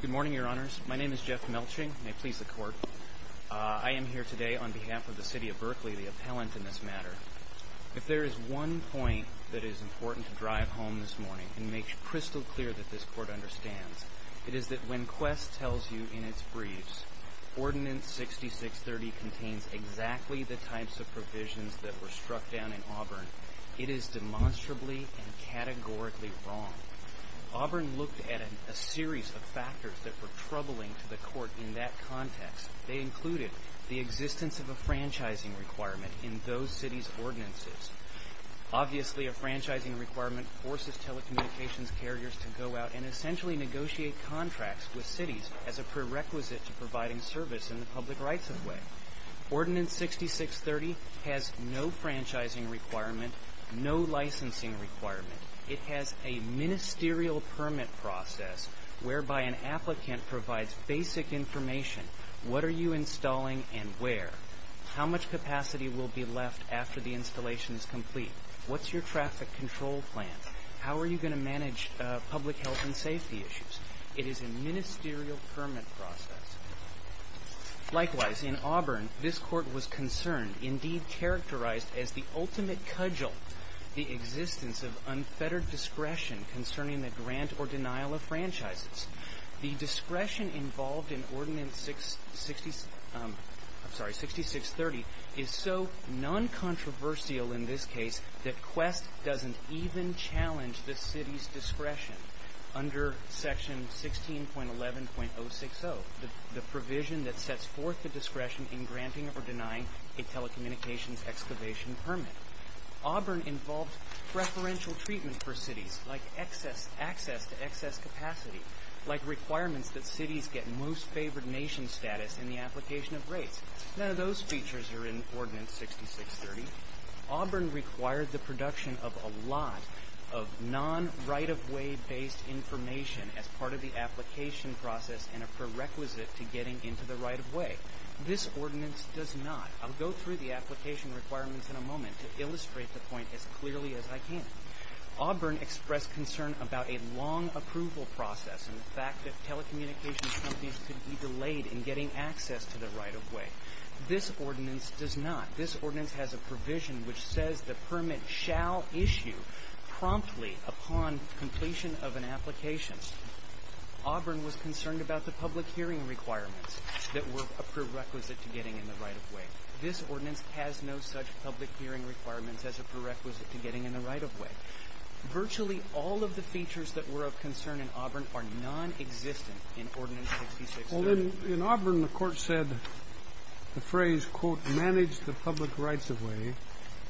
Good morning, Your Honors. My name is Jeff Melching. May it please the Court. I am here today on behalf of the City of Berkeley, the appellant in this matter. If there is one point that is important to drive home this morning and make crystal clear that this Court understands, it is that when Qwest tells you in its briefs, Ordinance 6630 contains exactly the types of provisions that were struck down in Auburn, it is demonstrably and categorically wrong. Auburn looked at a series of factors that were troubling to the Court in that context. They included the existence of a franchising requirement in those cities' ordinances. Obviously a franchising requirement forces telecommunications carriers to go out and essentially negotiate contracts with cities as a prerequisite to providing service in the public rights-of-way. Ordinance 6630 has no franchising requirement, no licensing requirement. It has a ministerial permit process whereby an applicant provides basic information. What are you installing and where? How much capacity will be left after the installation is complete? What's your traffic control plan? How are you going to manage public health and safety issues? It is a ministerial permit process. Likewise, in Auburn, this Court was concerned, indeed characterized as the ultimate cudgel, the existence of unfettered discretion concerning the grant or denial of franchises. The discretion involved in Ordinance 6630 is so non-controversial in this case that Qwest doesn't even challenge the city's discretion under Section 16.11.060, the provision that sets forth the discretion in granting or denying a telecommunications excavation permit. Auburn involved preferential treatment for cities, like access to excess capacity, like requirements that cities get most favored nation status in the application of rates. None of those features are in Ordinance 6630. Auburn required the production of a lot of non-right-of-way-based information as part of the application process and a prerequisite to getting into the right-of-way. This Ordinance does not. I'll go through the application requirements in a moment to illustrate the point as clearly as I can. Auburn expressed concern about a long approval process and the fact that telecommunications companies could be delayed in getting access to the right-of-way. This Ordinance does not. This Ordinance has a provision which says the permit shall issue promptly upon completion of an application. Auburn was concerned about the public hearing requirements that were a prerequisite to getting in the right-of-way. This Ordinance has no such public hearing requirements as a prerequisite to getting in the right-of-way. Virtually all of the features that were of concern in Auburn are non-existent in Ordinance 6630. Well, in Auburn, the Court said the phrase, quote, manage the public right-of-way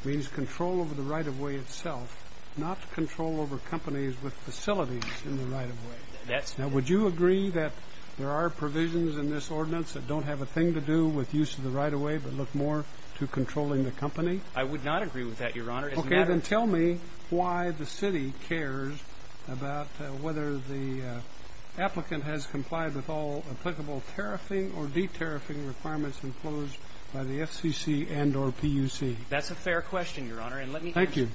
means control over the right-of-way itself, not control over companies with facilities in the right-of-way. Now, would you agree that there are provisions in this Ordinance that don't have a thing to do with use of the right-of-way but look more to controlling the company? I would not agree with that, Your Honor. Okay, then tell me why the city cares about whether the applicant has complied with all applicable tariffing or de-tariffing requirements enclosed by the FCC and or PUC. That's a fair question, Your Honor, and let me answer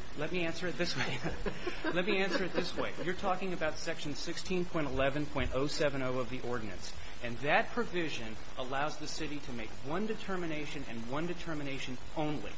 it this way. Thank you. Let me answer it this way. You're talking about Section 16.11.070 of the Ordinance, and that provision allows the city to make one determination and one determination only.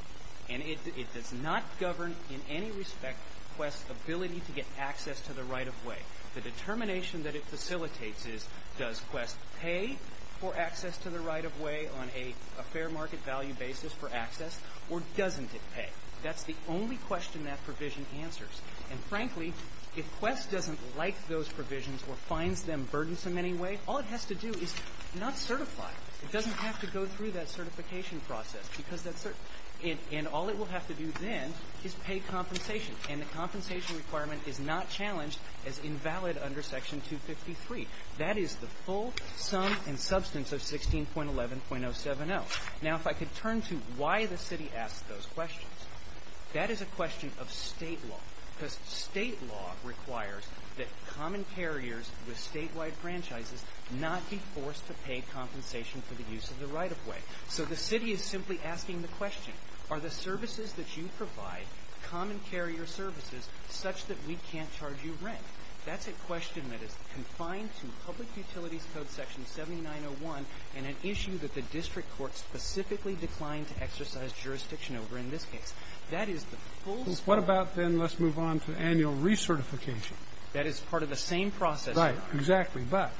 And it does not govern in any respect Quest's ability to get access to the right-of-way. The determination that it facilitates is, does Quest pay for access to the right-of-way on a fair market value basis for access, or doesn't it pay? That's the only question that provision answers. And frankly, if Quest doesn't like those provisions or finds them burdensome in any way, all it has to do is not certify. It doesn't have to go through that certification process because that's certain. And all it will have to do then is pay compensation. And the compensation requirement is not challenged as invalid under Section 253. That is the full sum and substance of 16.11.070. Now if I could turn to why the city asks those questions. That is a question of State law, because State law requires that common carriers with State-wide franchises not be forced to pay compensation for the use of the right-of-way. So the city is simply asking the question, are the services that you provide common carrier services such that we can't charge you rent? That's a question that is confined to Public Utilities Code Section 7901 and an issue that the District Court specifically declined to exercise jurisdiction over in this case. That is the full... What about then, let's move on to annual recertification? That is part of the same process, Your Honor. Right. Exactly. But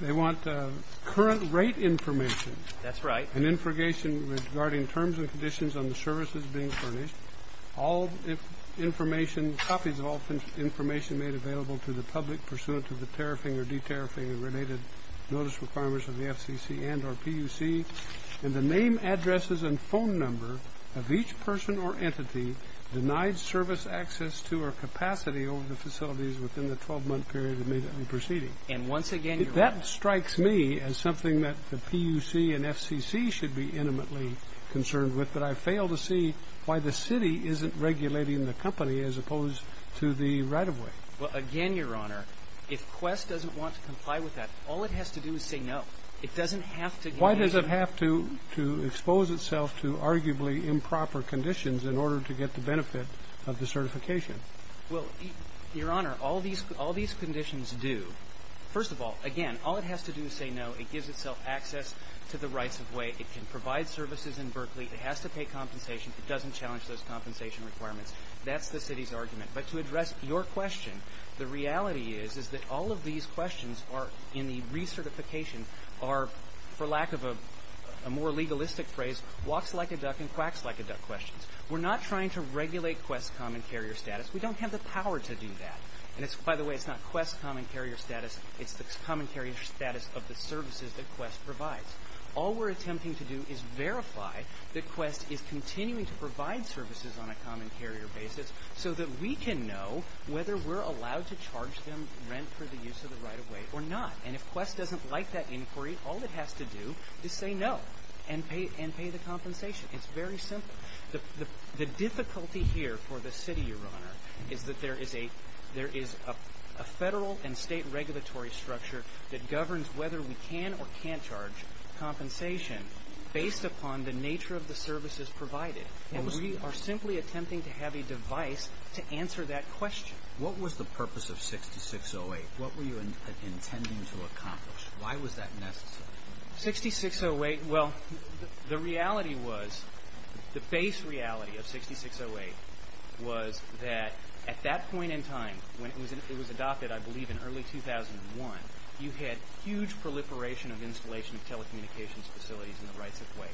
they want current rate information. That's right. And infrogation regarding terms and conditions on the services being furnished. All information, copies of all information made available to the public pursuant to the tariffing or de-tariffing related notice requirements of the FCC and or PUC. And the name, addresses, and phone number of each person or entity denied service access to or capacity over the facilities within the 12-month period in May that we're proceeding. And once again, Your Honor... That strikes me as something that the PUC and FCC should be intimately concerned with, but I fail to see why the city isn't regulating the company as opposed to the right-of-way. Well, again, Your Honor, if Quest doesn't want to comply with that, all it has to do is say no. It doesn't have to... Why does it have to expose itself to arguably improper conditions in order to get the benefit of the certification? Well, Your Honor, all these conditions do. First of all, again, all it has to do is say no. It gives itself access to the rights-of-way. It can provide services in Berkeley. It has to pay compensation. It doesn't challenge those compensation requirements. That's the city's argument. But to address your question, the reality is, is that all of these questions are in a more legalistic phrase, walks like a duck and quacks like a duck questions. We're not trying to regulate Quest's common carrier status. We don't have the power to do that. And by the way, it's not Quest's common carrier status. It's the common carrier status of the services that Quest provides. All we're attempting to do is verify that Quest is continuing to provide services on a common carrier basis so that we can know whether we're allowed to charge them rent for the use of the right-of-way or not. And if Quest doesn't like that inquiry, all it has to do is say no and pay the compensation. It's very simple. The difficulty here for the city, Your Honor, is that there is a federal and state regulatory structure that governs whether we can or can't charge compensation based upon the nature of the services provided. And we are simply attempting to have a device to answer that question. What was the purpose of 6608? What were you intending to accomplish? Why was that necessary? 6608, well, the reality was, the base reality of 6608 was that at that point in time, when it was adopted, I believe in early 2001, you had huge proliferation of installation of telecommunications facilities in the right-of-way,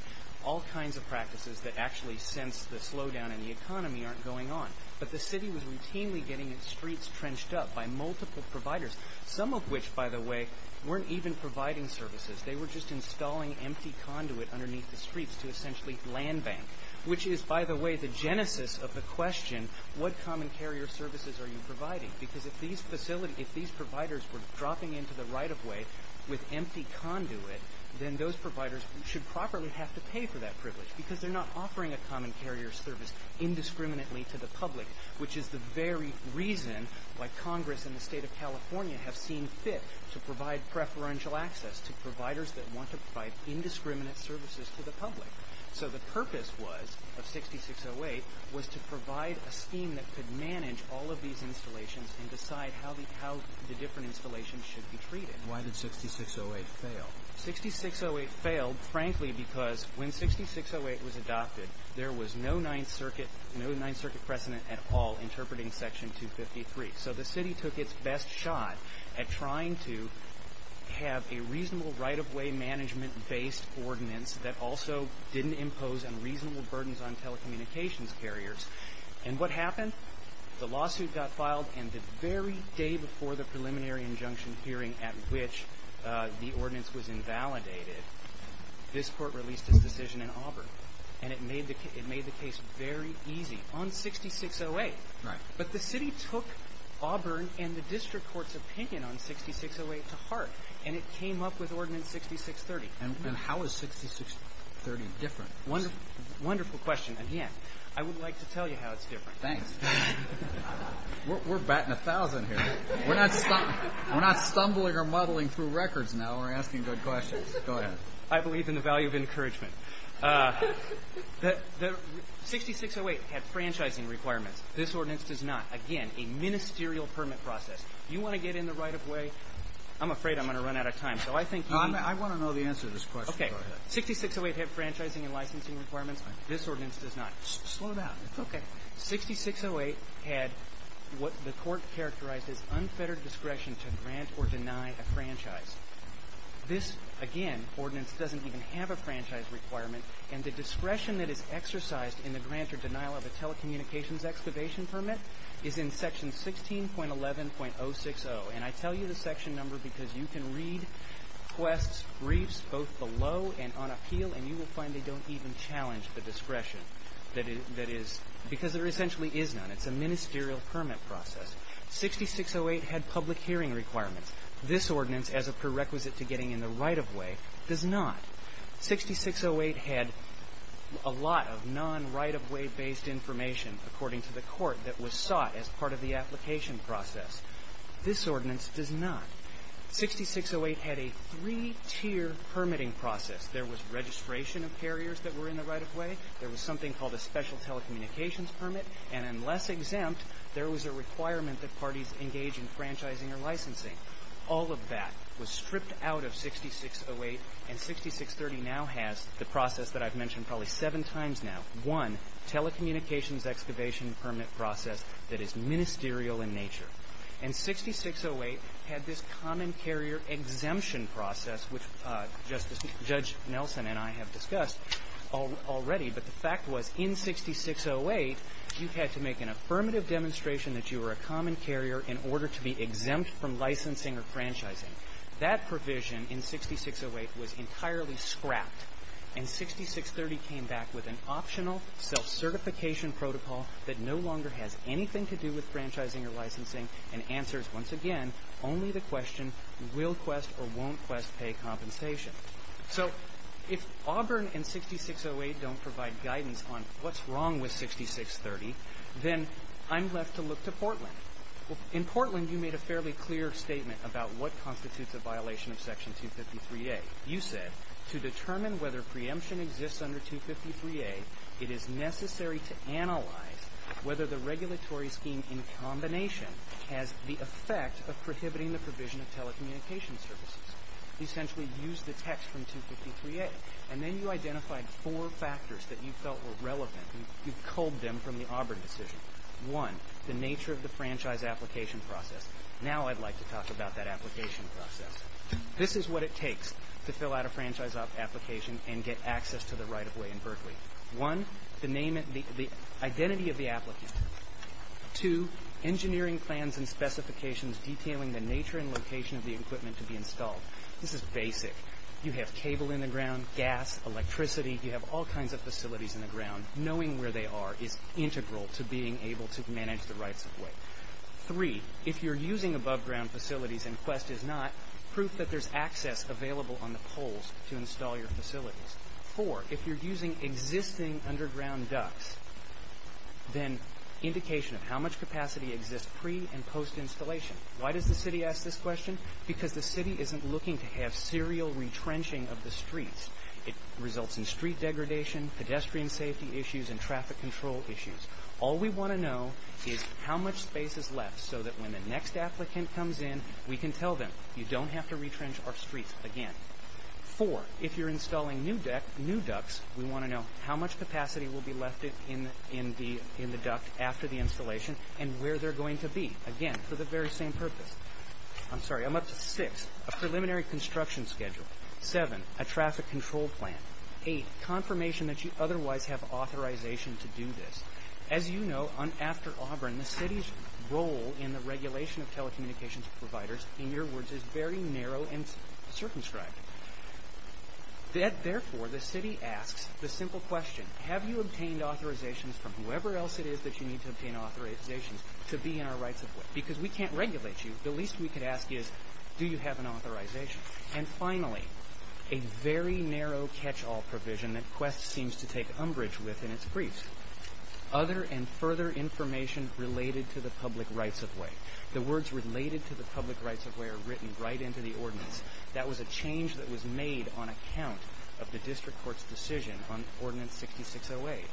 all kinds of practices that actually since the slowdown in the economy aren't going on. But the city was routinely getting its streets trenched up by multiple providers, some of which, by the way, weren't even providing services. They were just installing empty conduit underneath the streets to essentially land bank, which is, by the way, the genesis of the question, what common carrier services are you providing? Because if these facility, if these providers were dropping into the right-of-way with empty conduit, then those providers should properly have to pay for that privilege because they're not offering a common carrier service indiscriminately to the public, which is the very reason why Congress and the state of California have seen fit to provide preferential access to providers that want to provide indiscriminate services to the public. So the purpose was, of 6608, was to provide a scheme that could manage all of these installations and decide how the, how the different installations should be treated. Why did 6608 fail? 6608 failed, frankly, because when 6608 was adopted, there was no Ninth Circuit, no Ninth Circuit precedent at all interpreting Section 253. So the city took its best shot at trying to have a reasonable right-of-way management-based ordinance that also didn't impose unreasonable burdens on telecommunications carriers. And what happened? The lawsuit got filed and the very day before the preliminary injunction hearing at which the ordinance was invalidated, this court released its decision in easy, on 6608. Right. But the city took Auburn and the district court's opinion on 6608 to heart, and it came up with Ordinance 6630. And how is 6630 different? Wonderful, wonderful question. And, yeah, I would like to tell you how it's different. Thanks. We're batting a thousand here. We're not stumbling or muddling through records now. We're asking good questions. Go ahead. I believe in the value of encouragement. The 6608 had franchising requirements. This ordinance does not. Again, a ministerial permit process. You want to get in the right-of-way? I'm afraid I'm going to run out of time. So I think you want to know the answer to this question. Okay. 6608 had franchising and licensing requirements. This ordinance does not. Slow down. It's okay. 6608 had what the court characterized as unfettered discretion to grant or deny a franchise. This, again, ordinance doesn't even have a franchise requirement. And the discretion that is exercised in the grant or denial of a telecommunications excavation permit is in section 16.11.060. And I tell you the section number because you can read quests, briefs, both below and on appeal, and you will find they don't even challenge the discretion that is, because there essentially is none. It's a ministerial permit process. 6608 had public hearing requirements. This ordinance, as a prerequisite to getting in the right-of-way, does not. 6608 had a lot of non-right-of-way based information, according to the court, that was sought as part of the application process. This ordinance does not. 6608 had a three-tier permitting process. There was registration of carriers that were in the right-of-way. There was something called a special telecommunications permit. And unless exempt, there was a requirement that parties engage in franchising or licensing. All of that was stripped out of 6608. And 6630 now has the process that I've mentioned probably seven times now, one telecommunications excavation permit process that is ministerial in nature. And 6608 had this common carrier exemption process, which Judge Nelson and I have discussed already. But the fact was, in 6608, you had to make an affirmative demonstration that you were a common carrier in order to be exempt from licensing or franchising. That provision in 6608 was entirely scrapped. And 6630 came back with an optional self-certification protocol that no longer has anything to do with franchising or licensing and answers, once again, only the question, will Quest or won't Quest pay compensation? So if Auburn and 6608 don't provide guidance on what's wrong with 6630, then I'm left to look to Portland. Well, in Portland, you made a fairly clear statement about what constitutes a violation of Section 253A. You said, to determine whether preemption exists under 253A, it is necessary to analyze whether the regulatory scheme in combination has the effect of prohibiting the provision of telecommunications services. You essentially used the text from 253A. And then you identified four factors that you felt were relevant. You culled them from the Auburn decision. One, the nature of the franchise application process. Now I'd like to talk about that application process. This is what it takes to fill out a franchise application and get access to the right-of-way in Berkeley. One, the name and the identity of the applicant. Two, engineering plans and specifications detailing the nature and location of the equipment to be installed. This is basic. You have cable in the ground, gas, electricity. You have all kinds of facilities in the ground. Knowing where they are is integral to being able to manage the rights-of-way. Three, if you're using above-ground facilities and Quest is not, proof that there's access available on the poles to install your facilities. Four, if you're using existing underground ducts, then indication of how much capacity exists pre- and post-installation. Why does the city ask this question? Because the city isn't looking to have serial retrenching of the streets. It results in street degradation, pedestrian safety issues, and traffic control issues. All we want to know is how much space is left so that when the next applicant comes in, we can tell them, you don't have to retrench our streets again. Four, if you're installing new ducts, we want to know how much capacity will be left in the duct after the installation and where they're going to be. Again, for the very same purpose. I'm sorry, I'm up to six. A preliminary construction schedule. Seven, a traffic control plan. Eight, confirmation that you otherwise have authorization to do this. As you know, after Auburn, the city's role in the regulation of telecommunications providers, in your words, is very narrow and circumscribed. Therefore, the city asks the simple question, have you obtained authorizations from whoever else it is that you need to obtain authorizations to be in our rights-of-way? Because we can't regulate you. The least we could ask is, do you have an authorization? And finally, a very narrow catch-all provision that Quest seems to take umbrage with in its briefs. Other and further information related to the public rights-of-way. The words related to the public rights-of-way are written right into the ordinance. That was a change that was made on account of the district court's decision on Ordinance 6608.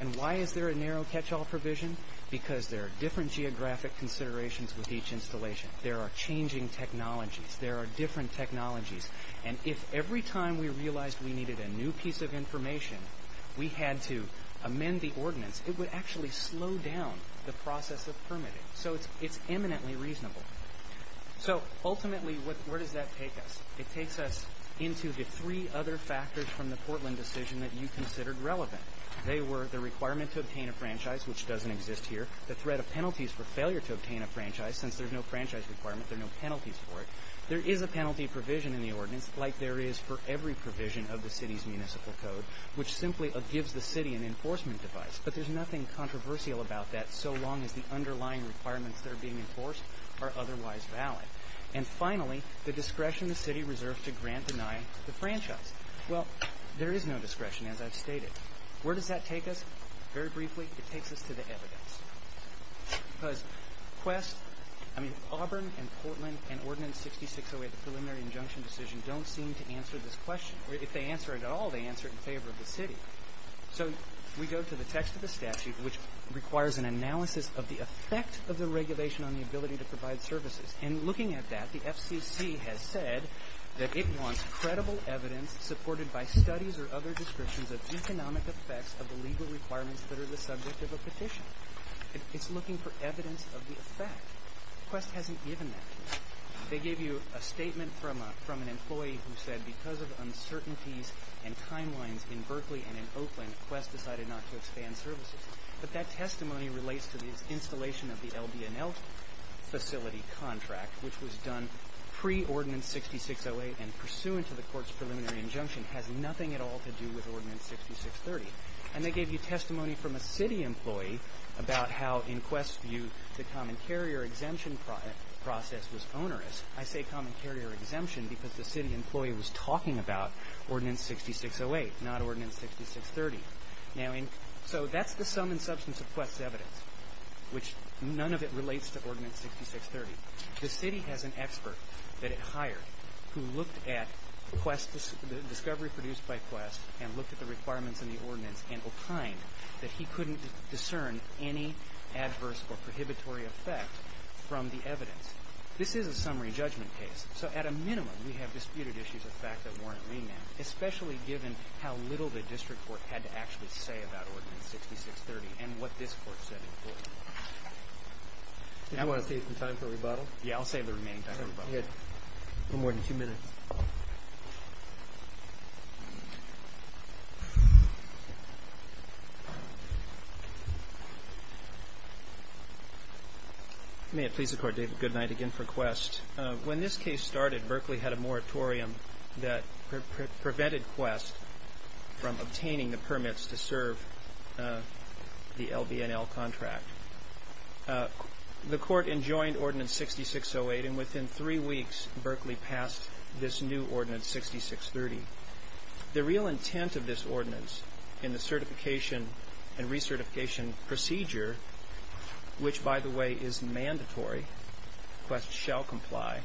And why is there a narrow catch-all provision? Because there are different geographic considerations with each installation. There are changing technologies. There are different technologies. And if every time we realized we needed a new piece of information, we had to amend the ordinance, it would actually slow down the process of permitting. So it's eminently reasonable. So ultimately, where does that take us? It takes us into the three other factors from the Portland decision that you considered relevant. They were the requirement to obtain a franchise, which doesn't exist here. The threat of penalties for failure to obtain a franchise, since there's no franchise requirement, there are no penalties for it. There is a penalty provision in the ordinance, like there is for every provision of the city's municipal code, which simply gives the city an enforcement device. But there's nothing controversial about that, so long as the underlying requirements that are being enforced are otherwise valid. And finally, the discretion the city reserves to grant denial to the franchise. Well, there is no discretion, as I've stated. Where does that take us? Very briefly, it takes us to the evidence. Because Quest, I mean, Auburn and Portland and Ordinance 6608, the preliminary injunction decision, don't seem to answer this question. If they answer it at all, they answer it in favor of the city. So we go to the text of the statute, which requires an analysis of the effect of the regulation on the ability to provide services. And looking at that, the FCC has said that it wants credible evidence supported by studies or other descriptions of economic effects of the legal requirements that are the subject of a petition. It's looking for evidence of the effect. Quest hasn't given that to us. They gave you a statement from an employee who said, because of uncertainties and timelines in Berkeley and in Oakland, Quest decided not to expand services. But that testimony relates to the installation of the LBNL facility contract, which was done pre-Ordinance 6608 and pursuant to the court's preliminary injunction, has nothing at all to do with Ordinance 6630. And they gave you testimony from a city employee about how, in Quest's view, the common carrier exemption process was onerous. I say common carrier exemption because the city employee was talking about Ordinance 6608, not Ordinance 6630. So that's the sum and substance of Quest's evidence, which none of it relates to Ordinance 6630. The city has an expert that it hired who looked at the discovery produced by Quest and looked at the requirements in the ordinance and opined that he couldn't discern any adverse or prohibitory effect from the evidence. This is a summary judgment case. So at a minimum, we have disputed issues of fact that warrant remand, especially given how little the district court had to actually say about Ordinance 6630 and what this court said in court. Do you want to save some time for a rebuttal? Yeah, I'll save the remaining time for a rebuttal. Good. No more than two minutes. May it please the Court, David, good night again for Quest. When this case started, Berkeley had a moratorium that prevented Quest from obtaining the permits to serve the LBNL contract. The court enjoined Ordinance 6608 and within three weeks, Berkeley passed this new Ordinance 6630. The real intent of this ordinance in the certification and recertification procedure, which by the way is mandatory, Quest shall comply,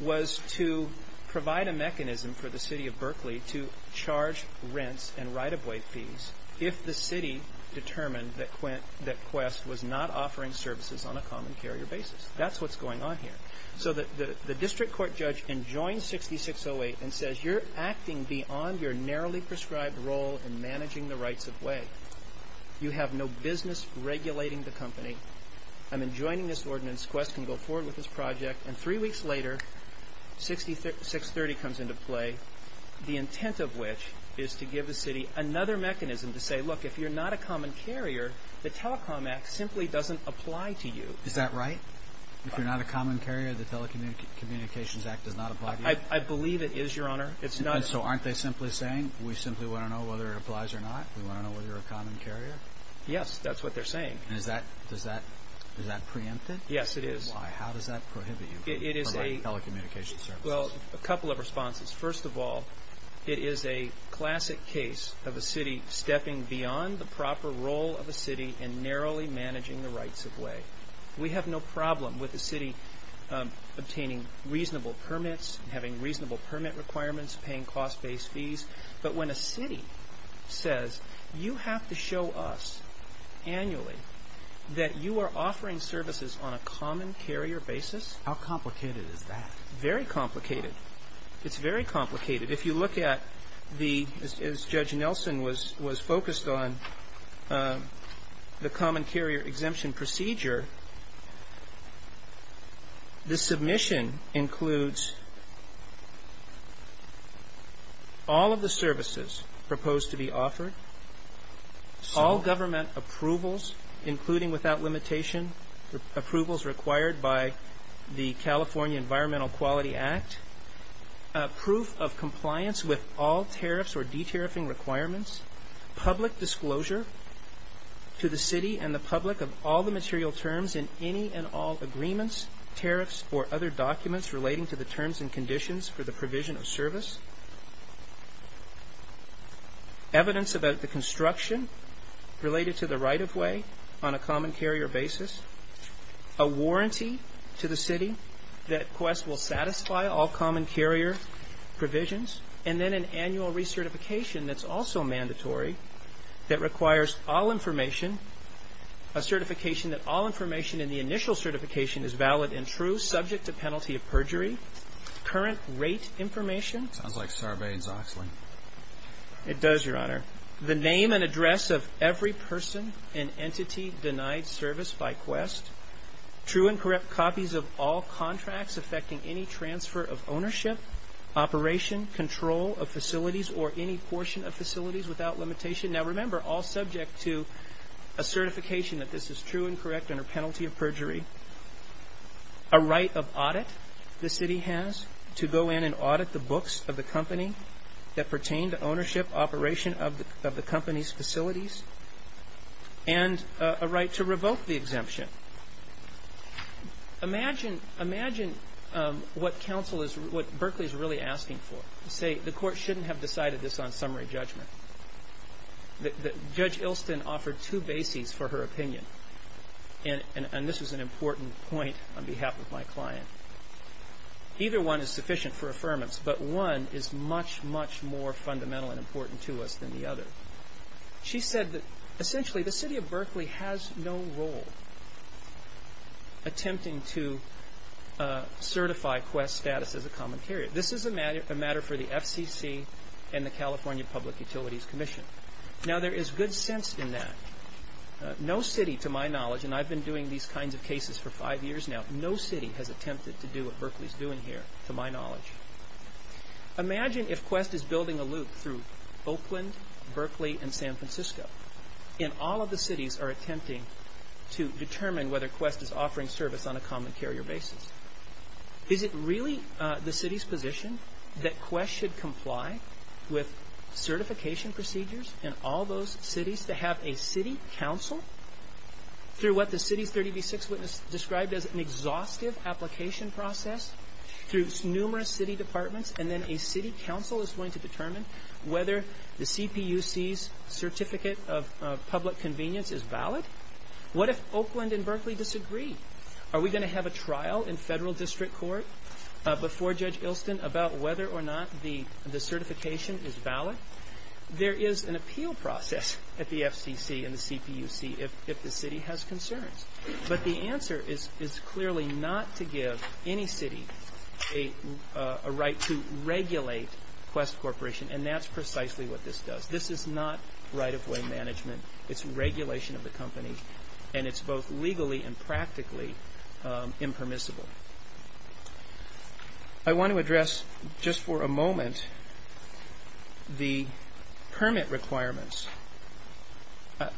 was to provide a mechanism for the city of Berkeley to charge rents and right-of-way fees if the city determined that Quest was not offering services on a common carrier basis. That's what's going on here. So the district court judge enjoins 6608 and says, you're acting beyond your narrowly prescribed role in managing the rights-of-way. You have no business regulating the company. I'm enjoining this ordinance, Quest can go forward with this project, and three weeks later, 6630 comes into play, the intent of which is to give the city another mechanism to say, look, if you're not a common carrier, the Telecom Act simply doesn't apply to you. Is that right? If you're not a common carrier, the Telecommunications Act does not apply to you? I believe it is, Your Honor. So aren't they simply saying, we simply want to know whether it applies or not? We want to know whether you're a common carrier? Yes, that's what they're saying. Is that preempted? Yes, it is. Why? How does that prohibit you from providing telecommunications services? Well, a couple of responses. First of all, it is a classic case of a city stepping beyond the proper role of a city and narrowly managing the rights-of-way. We have no problem with the city obtaining reasonable permits, having reasonable permit requirements, paying cost-based fees. But when a city says, you have to show us annually that you are offering services on a common carrier basis? How complicated is that? Very complicated. It's very complicated. If you look at the, as Judge Nelson was focused on, the common carrier exemption procedure, the submission includes all of the services proposed to be offered, all government approvals, including without limitation, approvals required by the California Environmental Quality Act, proof of compliance with all tariffs or de-tariffing requirements, public disclosure to the city and the public of all the material terms in any and all agreements, tariffs, or other documents relating to the terms and conditions for the provision of service, evidence about the construction related to the right-of-way on a common carrier basis, a warranty to the city that Quest will satisfy all common carrier provisions, and then an annual recertification that's also mandatory that requires all information, a certification that all information in the initial certification is valid and true, subject to penalty of perjury, current rate information. Sounds like Sarbanes-Oxley. It does, Your Honor. The name and address of every person and entity denied service by Quest, true and correct copies of all contracts affecting any transfer of ownership, operation, control of facilities, or any portion of facilities without limitation. Now, remember, all subject to a certification that this is true and correct under penalty of perjury, a right of audit the city has to go in and audit the books of the company that pertain to ownership, operation of the company's facilities, and a right to revoke the exemption. Imagine what counsel is, what Berkeley is really asking for, to say the court shouldn't have decided this on summary judgment. Judge Ilston offered two bases for her opinion, and this was an important point on behalf of my client. Either one is sufficient for affirmance, but one is much, much more fundamental and important to us than the other. She said that, essentially, the city of Berkeley has no role attempting to certify Quest's status as a commentator. This is a matter for the FCC and the California Public Utilities Commission. Now, there is good sense in that. No city, to my knowledge, and I've been doing these kinds of cases for five years now, no city has attempted to do what Berkeley is doing here, to my knowledge. Imagine if Quest is building a loop through Oakland, Berkeley, and San Francisco, and all of the cities are attempting to determine whether Quest is offering service on a common carrier basis. Is it really the city's position that Quest should comply with certification procedures in all those cities to have a city counsel through what the city's 30 v. 6 witness described as an exhaustive application process through numerous city departments, and then a city counsel is going to determine whether the CPUC's certificate of public convenience is valid? What if Oakland and Berkeley disagree? Are we going to have a trial in federal district court before Judge Ilston about whether or not the certification is valid? There is an appeal process at the FCC and the CPUC if the city has concerns. But the answer is clearly not to give any city a right to regulate Quest Corporation, and that's precisely what this does. This is not right-of-way management. It's regulation of the company, and it's both legally and practically impermissible. I want to address, just for a moment, the permit requirements.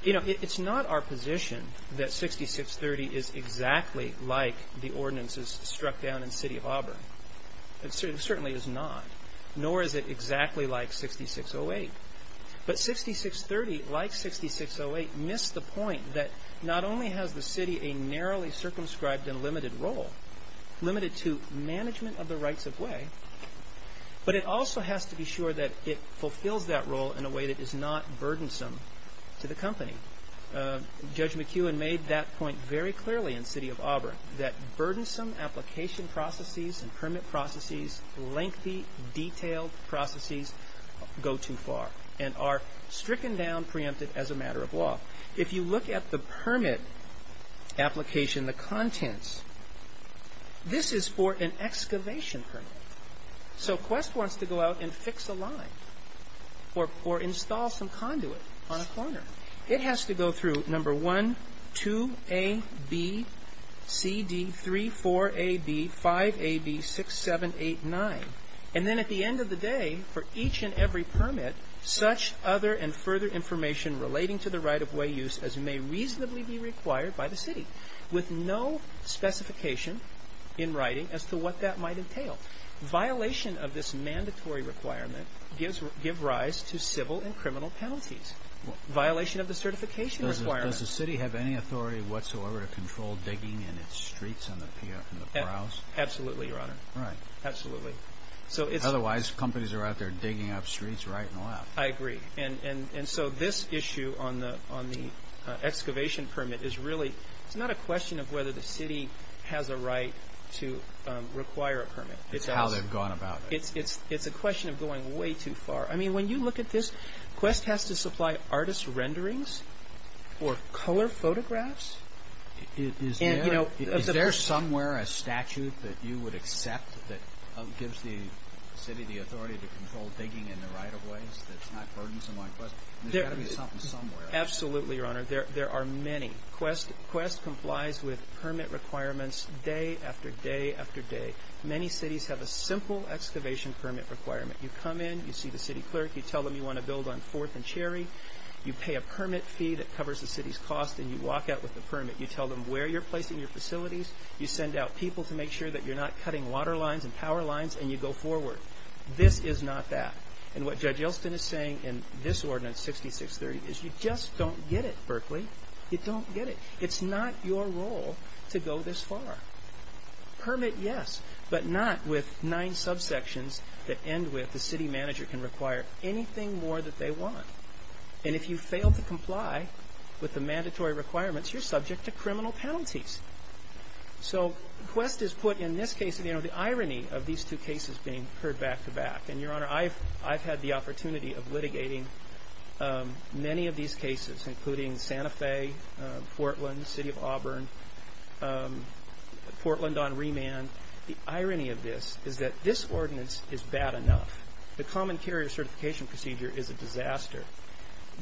It's not our position that 6630 is exactly like the ordinances struck down in City of Auburn. It certainly is not, nor is it exactly like 6608. But 6630, like 6608, missed the point that not only has the city a narrowly circumscribed and limited role, limited to management of the rights-of-way, but it also has to be sure that it fulfills that role in a way that is not burdensome to the company. Judge McEwen made that point very clearly in City of Auburn, that burdensome application processes and permit processes, lengthy, detailed processes go too far and are stricken down, preempted as a matter of law. If you look at the permit application, the contents, this is for an excavation permit. So Quest wants to go out and fix a line or install some conduit on a corner. It has to go through No. 1, 2A, B, C, D, 3, 4A, B, 5A, B, 6, 7, 8, 9. And then at the end of the day, for each and every permit, such other and further information relating to the right-of-way use as may reasonably be required by the city, with no specification in writing as to what that might entail. Violation of this mandatory requirement gives rise to civil and criminal penalties. Violation of the certification requirement. Does the city have any authority whatsoever to control digging in its streets in the Prowse? Absolutely, Your Honor. Right. Absolutely. Otherwise, companies are out there digging up streets right and left. I agree. And so this issue on the excavation permit is really, it's not a question of whether the city has a right to require a permit. It's how they've gone about it. It's a question of going way too far. I mean, when you look at this, Quest has to supply artist renderings or color photographs. Is there somewhere a statute that you would accept that gives the city the authority to control digging in the right-of-ways that's not burdensome like Quest? There's got to be something somewhere. Absolutely, Your Honor. There are many. Quest complies with permit requirements day after day after day. Many cities have a simple excavation permit requirement. You come in. You see the city clerk. You tell them you want to build on 4th and Cherry. You pay a permit fee that covers the city's cost, and you walk out with the permit. You tell them where you're placing your facilities. You send out people to make sure that you're not cutting water lines and power lines, and you go forward. This is not that. And what Judge Elston is saying in this ordinance, 6630, is you just don't get it, Berkeley. You don't get it. It's not your role to go this far. Permit, yes, but not with nine subsections that end with the city manager can require anything more that they want. And if you fail to comply with the mandatory requirements, you're subject to criminal penalties. So Quest has put, in this case, the irony of these two cases being heard back-to-back. And, Your Honor, I've had the opportunity of litigating many of these cases, including Santa Fe, Portland, City of Auburn, Portland on remand. The irony of this is that this ordinance is bad enough. The common carrier certification procedure is a disaster.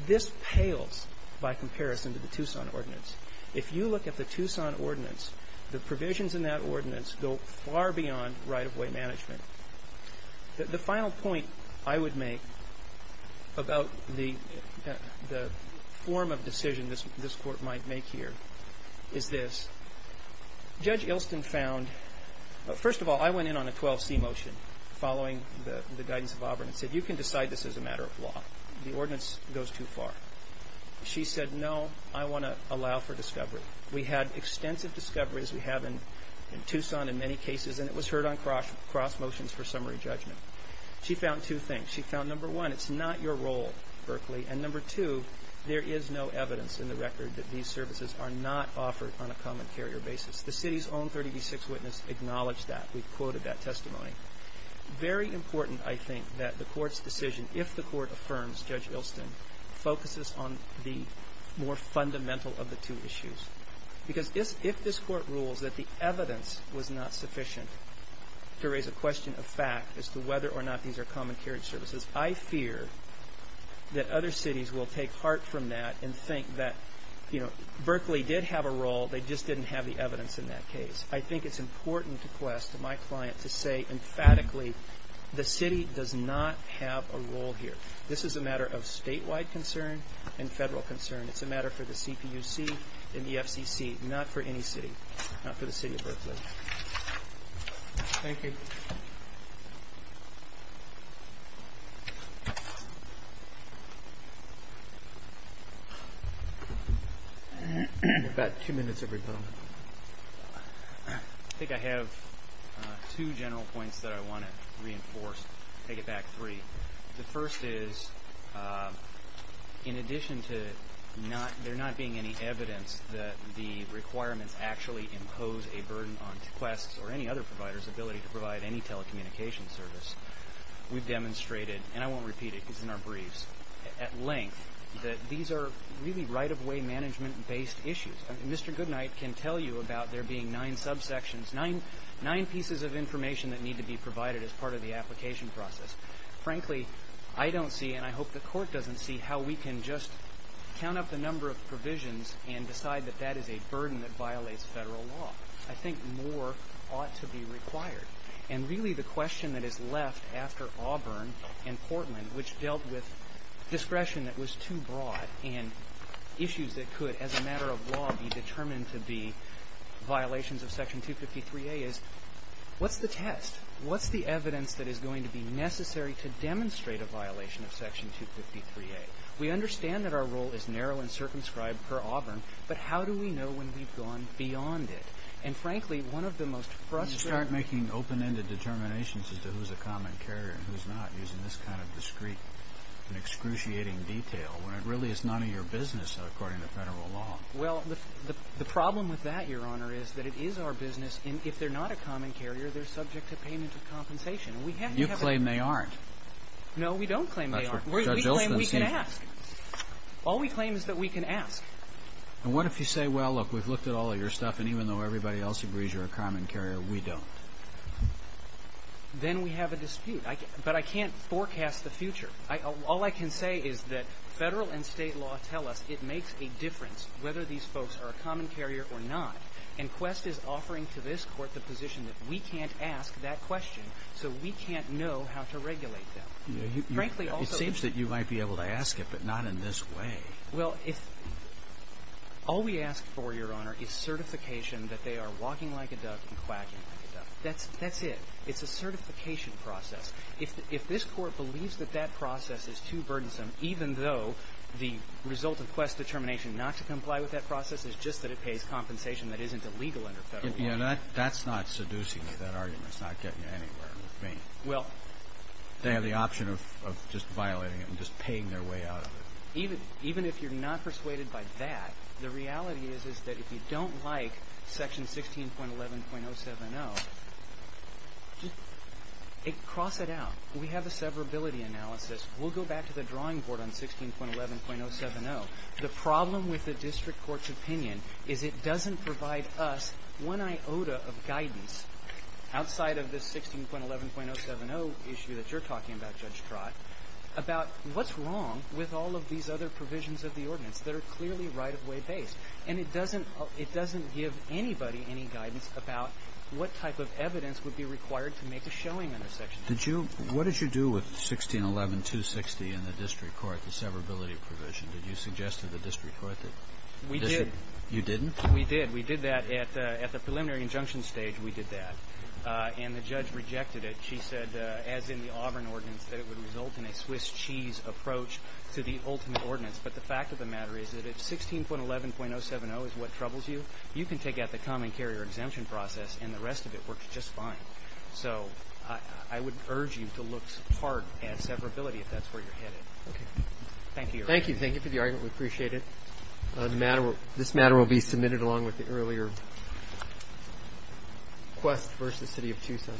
This pales by comparison to the Tucson ordinance. If you look at the Tucson ordinance, the provisions in that ordinance go far beyond right-of-way management. The final point I would make about the form of decision this Court might make here is this. Judge Ilston found, first of all, I went in on a 12C motion following the guidance of Auburn and said, you can decide this is a matter of law. The ordinance goes too far. She said, no, I want to allow for discovery. We had extensive discoveries. We have in Tucson in many cases. And it was heard on cross motions for summary judgment. She found two things. She found, number one, it's not your role, Berkeley. And, number two, there is no evidence in the record that these services are not offered on a common carrier basis. The City's own 30B6 witness acknowledged that. We quoted that testimony. Very important, I think, that the Court's decision, if the Court affirms Judge Ilston, focuses on the more fundamental of the two issues. Because if this Court rules that the evidence was not sufficient to raise a question of fact as to whether or not these are common carriage services, I fear that other cities will take heart from that and think that, you know, Berkeley did have a role, they just didn't have the evidence in that case. I think it's important to quest my client to say emphatically, the City does not have a role here. This is a matter of statewide concern and federal concern. It's a matter for the CPUC and the FCC, not for any city. Not for the City of Berkeley. Thank you. About two minutes of rebuttal. I think I have two general points that I want to reinforce, take it back three. The first is, in addition to there not being any evidence that the requirements actually impose a burden on Quest or any other provider's ability to provide any telecommunications service, we've demonstrated, and I won't repeat it because it's in our briefs, at length, that these are really right-of-way management-based issues. Mr. Goodnight can tell you about there being nine subsections, nine pieces of information that need to be provided as part of the application process. Frankly, I don't see, and I hope the Court doesn't see, how we can just count up the number of provisions and decide that that is a burden that violates federal law. I think more ought to be required. And really the question that is left after Auburn and Portland, which dealt with discretion that was too broad and issues that could, as a matter of law, be determined to be violations of Section 253A is, what's the test? What's the evidence that is going to be necessary to demonstrate a violation of Section 253A? We understand that our role is narrow and circumscribed per Auburn, but how do we know when we've gone beyond it? And frankly, one of the most frustrating... You start making open-ended determinations as to who's a common carrier and who's not using this kind of discrete and excruciating detail when it really is none of your business, according to federal law. Well, the problem with that, Your Honor, is that it is our business, and if they're not a common carrier, they're subject to payment of compensation. You claim they aren't. No, we don't claim they aren't. We claim we can ask. All we claim is that we can ask. And what if you say, well, look, we've looked at all of your stuff, and even though everybody else agrees you're a common carrier, we don't? Then we have a dispute. But I can't forecast the future. All I can say is that federal and state law tell us it makes a difference whether these folks are a common carrier or not, and Quest is offering to this Court the position that we can't ask that question so we can't know how to regulate them. Frankly, also... It seems that you might be able to ask it, but not in this way. Well, all we ask for, Your Honor, is certification that they are walking like a duck and quacking like a duck. That's it. It's a certification process. If this Court believes that that process is too burdensome, even though the result of Quest's determination not to comply with that process is just that it pays compensation that isn't illegal under federal law... That's not seducing me, that argument. It's not getting you anywhere with me. Well... They have the option of just violating it and just paying their way out of it. Even if you're not persuaded by that, the reality is that if you don't like Section 16.11.070, just cross it out. We have a severability analysis. We'll go back to the drawing board on 16.11.070. The problem with the district court's opinion is it doesn't provide us one iota of guidance outside of this 16.11.070 issue that you're talking about, Judge Trott, about what's wrong with all of these other provisions of the ordinance that are clearly right-of-way based. And it doesn't give anybody any guidance about what type of evidence would be required to make a showing in a section. What did you do with 16.11.260 in the district court, the severability provision? Did you suggest to the district court that... We did. You didn't? We did. We did that at the preliminary injunction stage. We did that. And the judge rejected it. She said, as in the Auburn ordinance, that it would result in a Swiss cheese approach to the ultimate ordinance. But the fact of the matter is that if 16.11.070 is what troubles you, you can take out the common carrier exemption process, and the rest of it works just fine. So I would urge you to look hard at severability if that's where you're headed. Okay. Thank you. Thank you. Thank you for the argument. We appreciate it. This matter will be submitted along with the earlier quest versus city of Tucson.